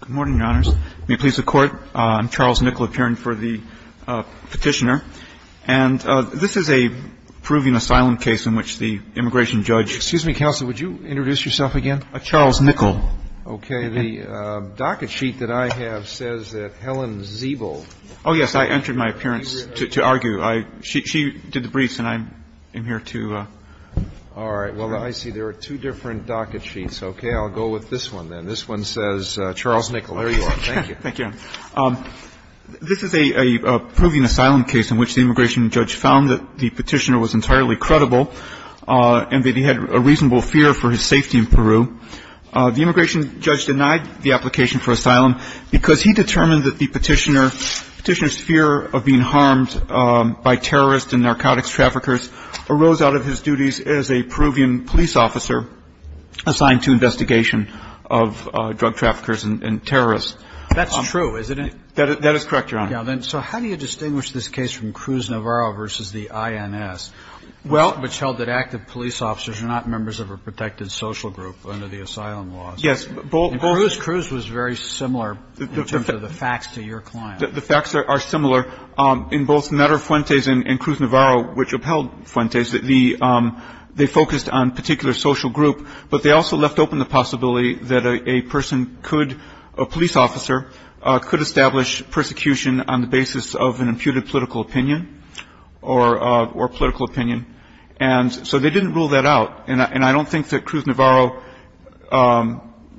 Good morning, Your Honors. May it please the Court, I'm Charles Nickell appearing for the petitioner. And this is a proving asylum case in which the immigration judge Excuse me, Counsel, would you introduce yourself again? Charles Nickell. Okay, the docket sheet that I have says that Helen Ziebel Oh, yes, I entered my appearance to argue. She did the briefs and I'm here to All right, well, I see there are two different docket sheets. Okay, I'll go with this one then. This one says Charles Nickell. There you are. Thank you. Thank you. This is a proving asylum case in which the immigration judge found that the petitioner was entirely credible and that he had a reasonable fear for his safety in Peru. The immigration judge denied the application for asylum because he determined that the petitioner's fear of being harmed by terrorists and narcotics traffickers arose out of his duties as a Peruvian police officer assigned to investigation of drug traffickers and terrorists. That's true, isn't it? That is correct, Your Honor. So how do you distinguish this case from Cruz-Navarro v. the INS, which held that active police officers are not members of a protected social group under the asylum laws? Yes, both Cruz-Navarro was very similar in terms of the facts to your client. The facts are similar in both Nader Fuentes and Cruz-Navarro, which upheld Fuentes. They focused on a particular social group, but they also left open the possibility that a person could, a police officer, could establish persecution on the basis of an imputed political opinion or political opinion. And so they didn't rule that out. And I don't think that Cruz-Navarro,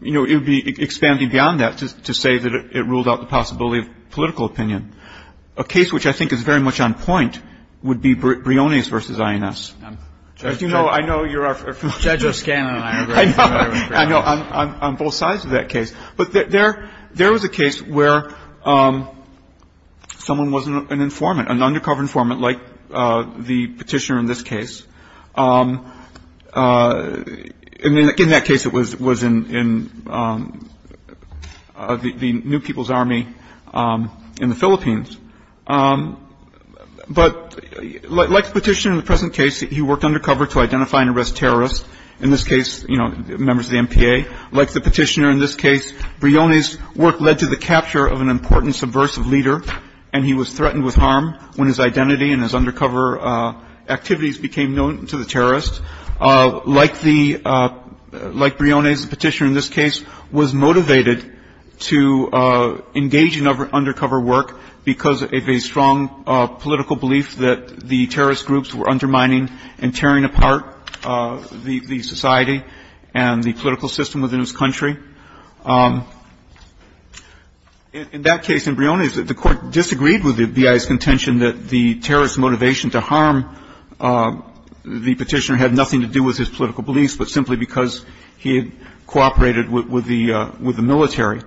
you know, it would be expanding beyond that to say that it ruled out the possibility of political opinion. A case which I think is very much on point would be Briones v. INS. I'm sure you know, I know you're our Judge O'Scannon and I agree with you on both sides of that case. But there was a case where someone was an informant, an undercover informant like the petitioner in this case. And in that case, it was in the New People's Army in the Philippines. But like the petitioner in the present case, he worked undercover to identify and arrest terrorists. In this case, you know, members of the MPA. Like the petitioner in this case, Briones' work led to the capture of an important subversive leader, and he was threatened with harm when his identity and his undercover activities became known to the terrorists. Like the — like Briones, the petitioner in this case was motivated to engage in undercover work because of a strong political belief that the terrorist groups were undermining and tearing apart the society and the political system within this country. In that case, in Briones, the Court disagreed with the BIA's contention that the terrorist group's motivation to harm the petitioner had nothing to do with his political beliefs, but simply because he had cooperated with the military.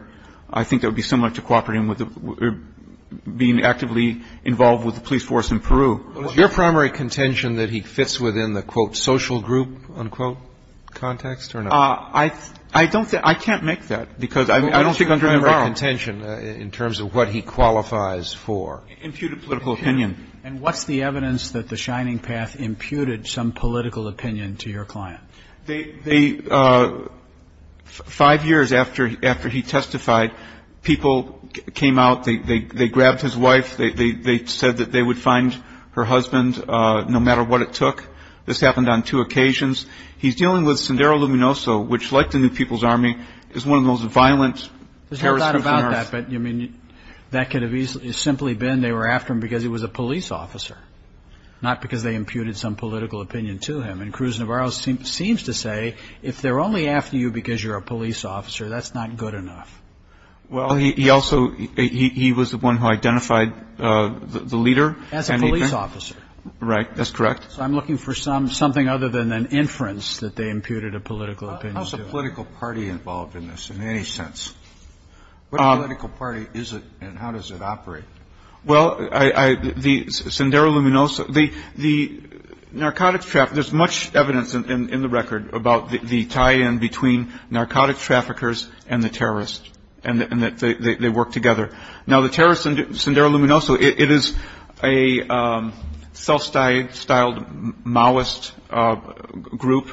I think that would be similar to cooperating with the — being actively involved with the police force in Peru. Roberts. Your primary contention that he fits within the, quote, social group, unquote, context or not? I don't think — I can't make that, because I don't think I'm going to borrow. Your primary contention in terms of what he qualifies for. Imputed political opinion. And what's the evidence that the Shining Path imputed some political opinion to your client? They — five years after he testified, people came out. They grabbed his wife. They said that they would find her husband no matter what it took. This happened on two occasions. He's dealing with Sendero Luminoso, which, like the New People's Army, is one of those violent terrorist groups on Earth. There's not a lot about that, but, I mean, that could have easily — simply been they were after him because he was a police officer, not because they imputed some political opinion to him. And Cruz Navarro seems to say, if they're only after you because you're a police officer, that's not good enough. Well, he also — he was the one who identified the leader. As a police officer. Right. That's correct. So I'm looking for some — something other than an inference that they imputed a political opinion to him. How's the political party involved in this, in any sense? What political party is it, and how does it operate? Well, I — the — Sendero Luminoso — the narcotics — there's much evidence in the record about the tie-in between narcotics traffickers and the terrorists, and that they work together. Now, the terrorists — Sendero Luminoso — it is a self-styled Maoist group,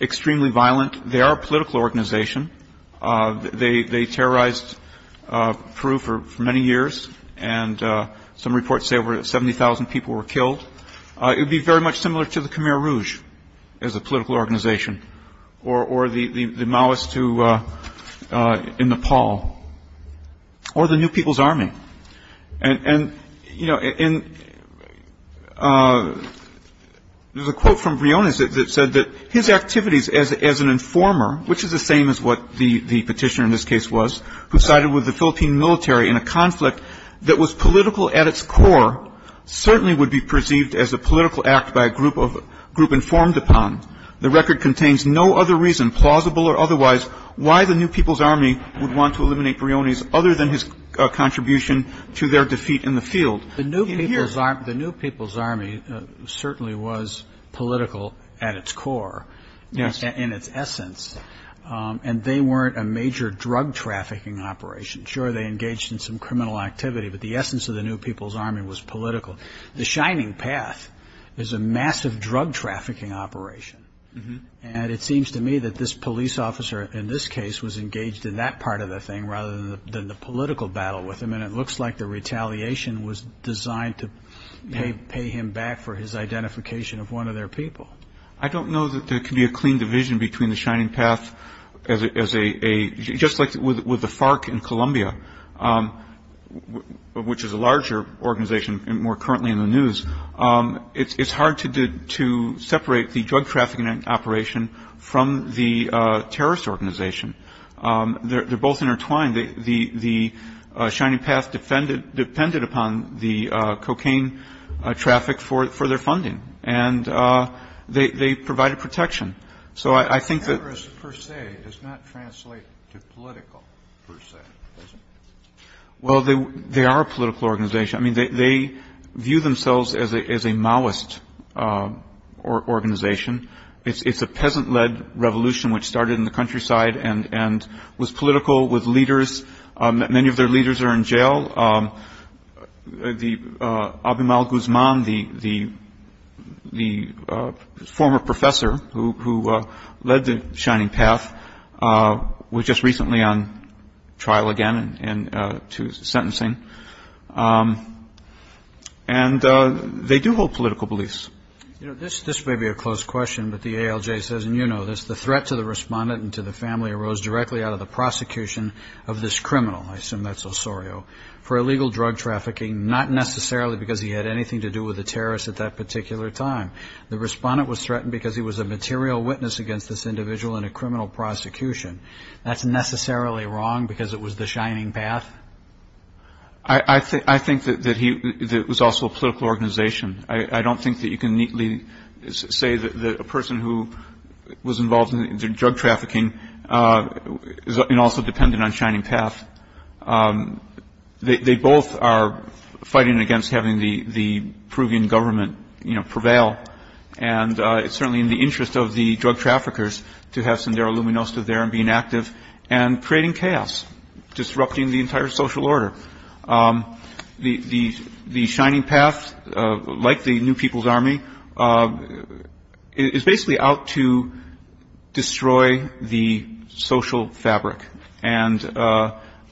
extremely violent. They are a political organization. They terrorized Peru for many years, and some reports say over 70,000 people were killed. It would be very much similar to the Khmer Rouge as a political organization, or the Maoists in Nepal, or the New People's Army. And, you know, there's a quote from Briones that said that his activities as an informer, which is the same as what the petitioner in this case was, who sided with the Philippine military in a conflict that was political at its core, certainly would be perceived as a political act by a group of — group informed upon. The record contains no other reason, plausible or otherwise, why the New People's Army would want to eliminate Briones other than his contribution to their defeat in the field. The New People's Army certainly was political at its core, in its essence, and they weren't a major drug trafficking operation. Sure, they engaged in some criminal activity, but the essence of the New People's Army was political. The Shining Path is a massive drug trafficking operation, and it seems to me that this police officer in this case was engaged in that part of the thing rather than the political battle with him, and it looks like the retaliation was designed to pay him back for his identification of one of their people. I don't know that there could be a clean division between the Shining Path as a — just like with the FARC in Colombia, which is a larger organization and more currently in the news, it's hard to separate the drug trafficking operation from the terrorist organization. They're both intertwined. The Shining Path depended upon the cocaine traffic for their funding, and they provided protection. So I think that — Terrorist, per se, does not translate to political, per se, does it? Well, they are a political organization. I mean, they view themselves as a Maoist organization. It's a peasant-led revolution which started in the countryside and was political with leaders. Many of their leaders are in jail. The — Abimal Guzman, the former professor who led the Shining Path, was just recently on trial again to sentencing. And they do hold political beliefs. You know, this may be a close question, but the ALJ says, and you know this, the threat to the respondent and to the family arose directly out of the prosecution of this criminal — I assume that's Osorio — for illegal drug trafficking, not necessarily because he had anything to do with the terrorists at that particular time. The respondent was threatened because he was a material witness against this individual in a criminal prosecution. That's necessarily wrong because it was the Shining Path? I think that he — that it was also a political organization. I don't think that you can neatly say that a person who was involved in drug trafficking is also dependent on Shining Path. They both are fighting against having the Peruvian government, you know, prevail. And it's certainly in the interest of the drug traffickers to have Sendero Luminoso there and being active and creating chaos, disrupting the entire social order. The Shining Path, like the New People's Army, is basically out to destroy the social fabric. And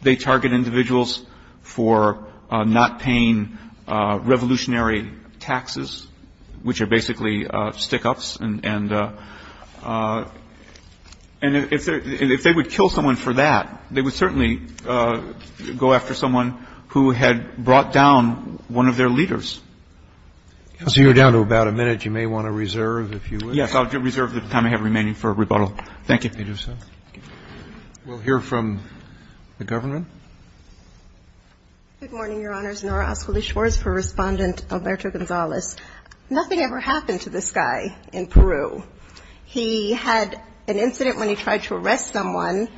they target individuals for not paying revolutionary taxes, which are basically stick-ups. And if they would kill someone for that, they would certainly go after someone who had brought down one of their leaders. So you're down to about a minute. You may want to reserve, if you wish. Yes, I'll reserve the time I have remaining for rebuttal. Thank you. We'll hear from the government. Good morning, Your Honors. Nora Ascoli-Schwarz for Respondent Alberto Gonzalez. Nothing ever happened to this guy in Peru. He had an incident when he tried to arrest someone,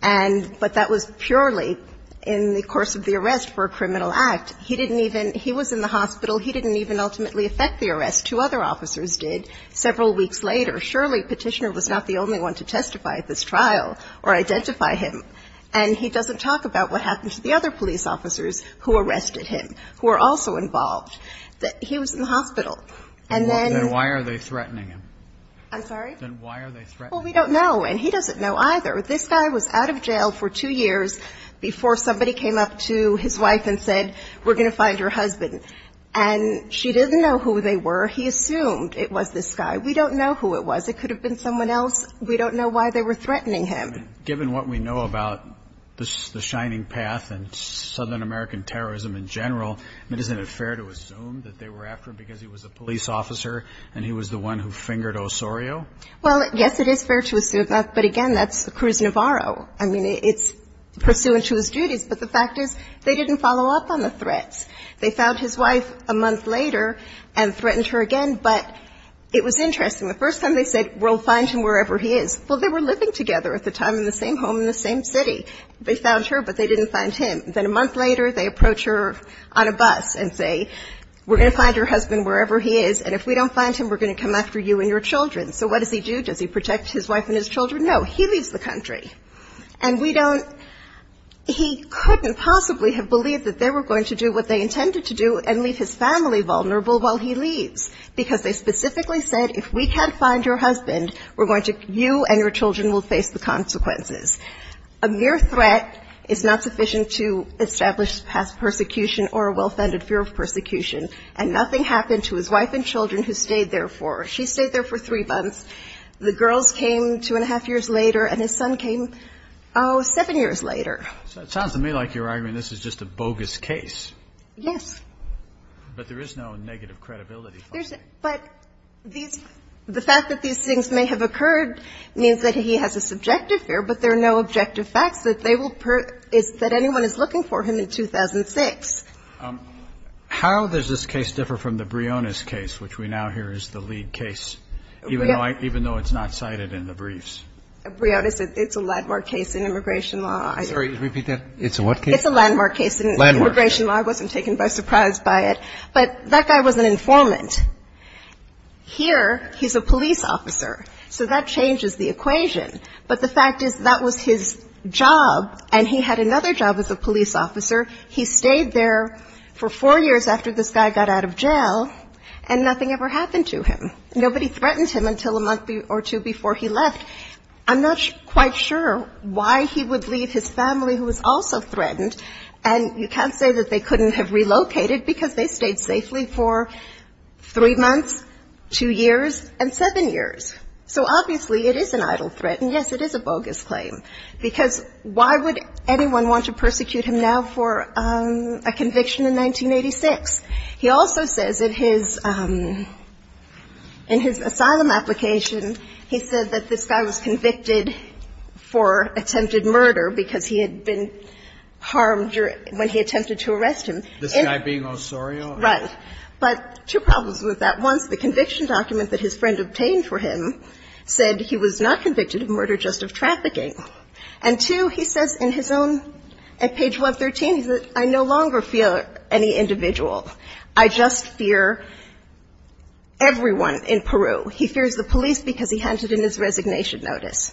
but that was purely in the course of the arrest for a criminal act. He didn't even he was in the hospital. He didn't even ultimately affect the arrest. Two other officers did several weeks later. Surely Petitioner was not the only one to testify at this trial or identify him. And he doesn't talk about what happened to the other police officers who arrested him, who were also involved. He was in the hospital. And then why are they threatening him? I'm sorry? Then why are they threatening him? Well, we don't know, and he doesn't know either. This guy was out of jail for two years before somebody came up to his wife and said, we're going to find your husband. And she didn't know who they were. He assumed it was this guy. We don't know who it was. It could have been someone else. We don't know why they were threatening him. And given what we know about the Shining Path and Southern American terrorism in general, isn't it fair to assume that they were after him because he was a police officer and he was the one who fingered Osorio? Well, yes, it is fair to assume that. But, again, that's Cruz Navarro. I mean, it's pursuant to his duties. But the fact is they didn't follow up on the threats. They found his wife a month later and threatened her again. But it was interesting. The first time they said, we'll find him wherever he is. Well, they were living together at the time in the same home in the same city. They found her, but they didn't find him. Then a month later, they approach her on a bus and say, we're going to find your husband wherever he is, and if we don't find him, we're going to come after you and your children. So what does he do? Does he protect his wife and his children? No. He leaves the country. And we don't he couldn't possibly have believed that they were going to do what they intended to do and leave his family vulnerable while he leaves because they specifically said, if we can't find your husband, you and your children will face the consequences. A mere threat is not sufficient to establish past persecution or a well-founded fear of persecution. And nothing happened to his wife and children, who stayed there for, she stayed there for three months. The girls came two and a half years later, and his son came, oh, seven years later. So it sounds to me like you're arguing this is just a bogus case. Yes. But there is no negative credibility. But these, the fact that these things may have occurred means that he has a subjective fear, but there are no objective facts that they will, that anyone is looking for him in 2006. How does this case differ from the Briones case, which we now hear is the lead case, even though it's not cited in the briefs? Briones, it's a landmark case in immigration law. Sorry, repeat that. It's a what case? It's a landmark case in immigration law. I wasn't taken by surprise by it. But that guy was an informant. Here, he's a police officer. So that changes the equation. But the fact is that was his job, and he had another job as a police officer. He stayed there for four years after this guy got out of jail, and nothing ever happened to him. Nobody threatened him until a month or two before he left. I'm not quite sure why he would leave his family, who was also threatened. And you can't say that they couldn't have relocated because they stayed safely for three months, two years, and seven years. So, obviously, it is an idle threat, and, yes, it is a bogus claim, because why would anyone want to persecute him now for a conviction in 1986? He also says in his asylum application, he said that this guy was convicted for attempted murder because he had been harmed when he attempted to arrest him. This guy being Osorio? Right. But two problems with that. One is the conviction document that his friend obtained for him said he was not convicted of murder, just of trafficking. And, two, he says in his own at page 113, he said, I no longer fear any individual. I just fear everyone in Peru. He fears the police because he handed in his resignation notice.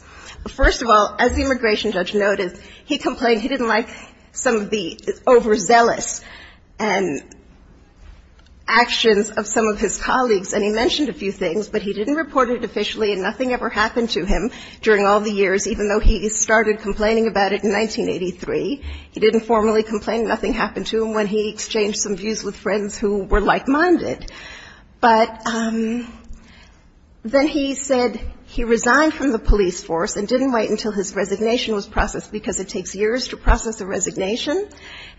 First of all, as the immigration judge noticed, he complained he didn't like some of the overzealous actions of some of his colleagues, and he mentioned a few things, but he didn't report it officially, and nothing ever happened to him during all the years, even though he started complaining about it in 1983. He didn't formally complain. Nothing happened to him when he exchanged some views with friends who were like-minded. But then he said he resigned from the police force and didn't wait until his resignation was processed because it takes years to process a resignation,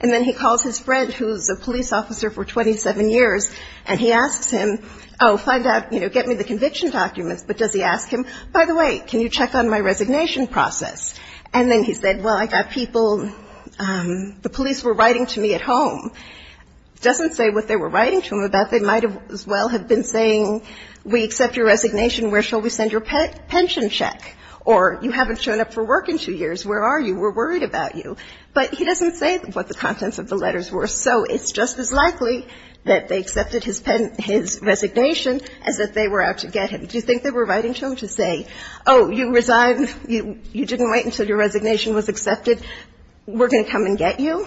and then he calls his friend who's a police officer for 27 years, and he asks him, oh, find out, you know, get me the conviction documents. But does he ask him, by the way, can you check on my resignation process? And then he said, well, I got people, the police were writing to me at home. Doesn't say what they were writing to him about. They might as well have been saying, we accept your resignation. Where shall we send your pension check? Or you haven't shown up for work in two years. Where are you? We're worried about you. But he doesn't say what the contents of the letters were, so it's just as likely that they accepted his resignation as that they were out to get him. Do you think they were writing to him to say, oh, you resigned, you didn't wait until your resignation was accepted, we're going to come and get you?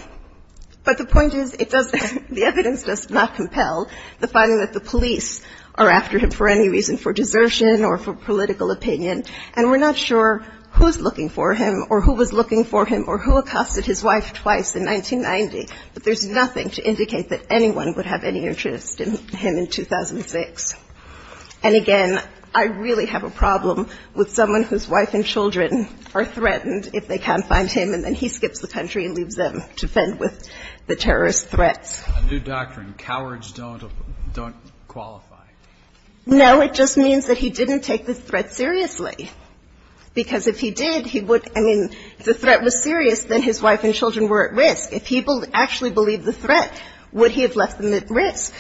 But the point is, it doesn't, the evidence does not compel the finding that the police are after him for any reason, for desertion or for political opinion, and we're not sure who's looking for him or who was looking for him or who accosted his wife twice in 1990, but there's nothing to indicate that anyone would have any interest in him in 2006. And again, I really have a problem with someone whose wife and children are threatened if they can't find him, and then he skips the country and leaves them to fend with the terrorist threats. A new doctrine, cowards don't qualify. No, it just means that he didn't take the threat seriously, because if he did, he would, I mean, if the threat was serious, then his wife and children were at risk. If he actually believed the threat, would he have left them at risk?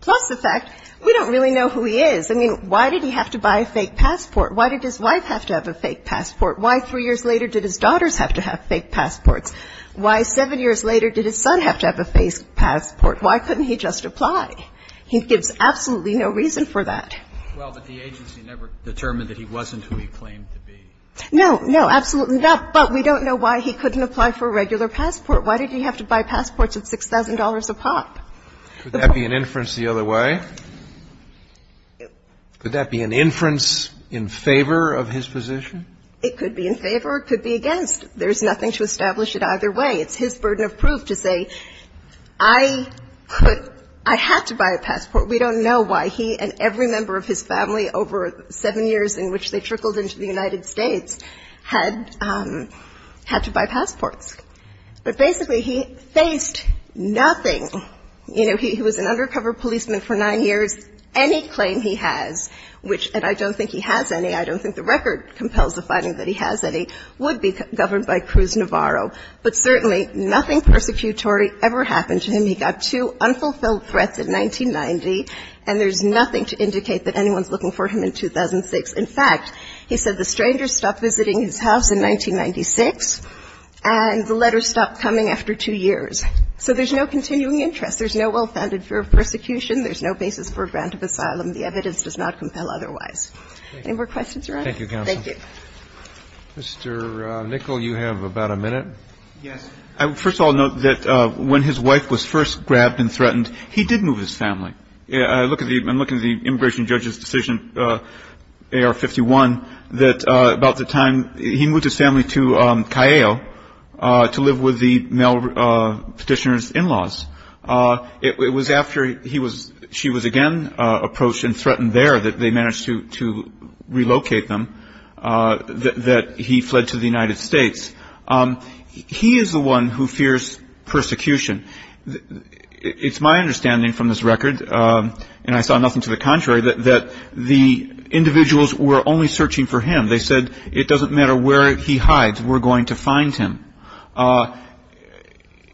Plus the fact, we don't really know who he is. I mean, why did he have to buy a fake passport? Why did his wife have to have a fake passport? Why three years later did his daughters have to have fake passports? Why seven years later did his son have to have a fake passport? Why couldn't he just apply? He gives absolutely no reason for that. Well, but the agency never determined that he wasn't who he claimed to be. No, no, absolutely not. But we don't know why he couldn't apply for a regular passport. Why did he have to buy passports at $6,000 a pop? Could that be an inference the other way? Could that be an inference in favor of his position? It could be in favor. It could be against. There's nothing to establish it either way. It's his burden of proof to say, I could, I had to buy a passport. We don't know why he and every member of his family over seven years in which they trickled into the United States had to buy passports. But basically he faced nothing. You know, he was an undercover policeman for nine years. Any claim he has, which, and I don't think he has any. I don't think the record compels the finding that he has any, would be governed by Cruz-Navarro. But certainly nothing persecutory ever happened to him. He got two unfulfilled threats in 1990, and there's nothing to indicate that anyone's looking for him in 2006. In fact, he said the strangers stopped visiting his house in 1996, and the letters stopped coming after two years. So there's no continuing interest. There's no well-founded fear of persecution. There's no basis for a grant of asylum. The evidence does not compel otherwise. Any more questions, Your Honor? Roberts. Thank you, counsel. Thank you. Mr. Nickel, you have about a minute. Yes. I would first of all note that when his wife was first grabbed and threatened, he did move his family. I'm looking at the immigration judge's decision, AR-51, that about the time he moved his family to Callejo to live with the male Petitioner's in-laws. It was after he was, she was again approached and threatened there that they managed to relocate them that he fled to the United States. He is the one who fears persecution. It's my understanding from this record, and I saw nothing to the contrary, that the individuals were only searching for him. They said it doesn't matter where he hides, we're going to find him.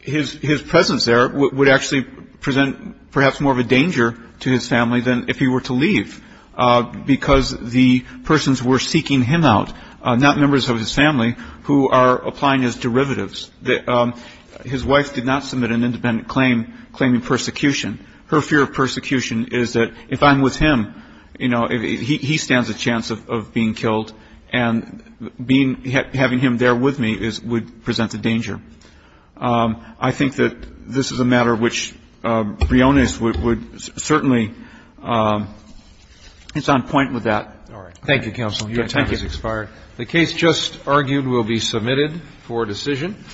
His presence there would actually present perhaps more of a danger to his family than if he were to leave because the persons were seeking him out, not members of his family who are applying his derivatives. His wife did not submit an independent claim claiming persecution. Her fear of persecution is that if I'm with him, you know, he stands a chance of being killed, and having him there with me would present a danger. I think that this is a matter which Briones would certainly, it's on point with that. Roberts. All right. Thank you, counsel. Your time has expired. The case just argued will be submitted for decision.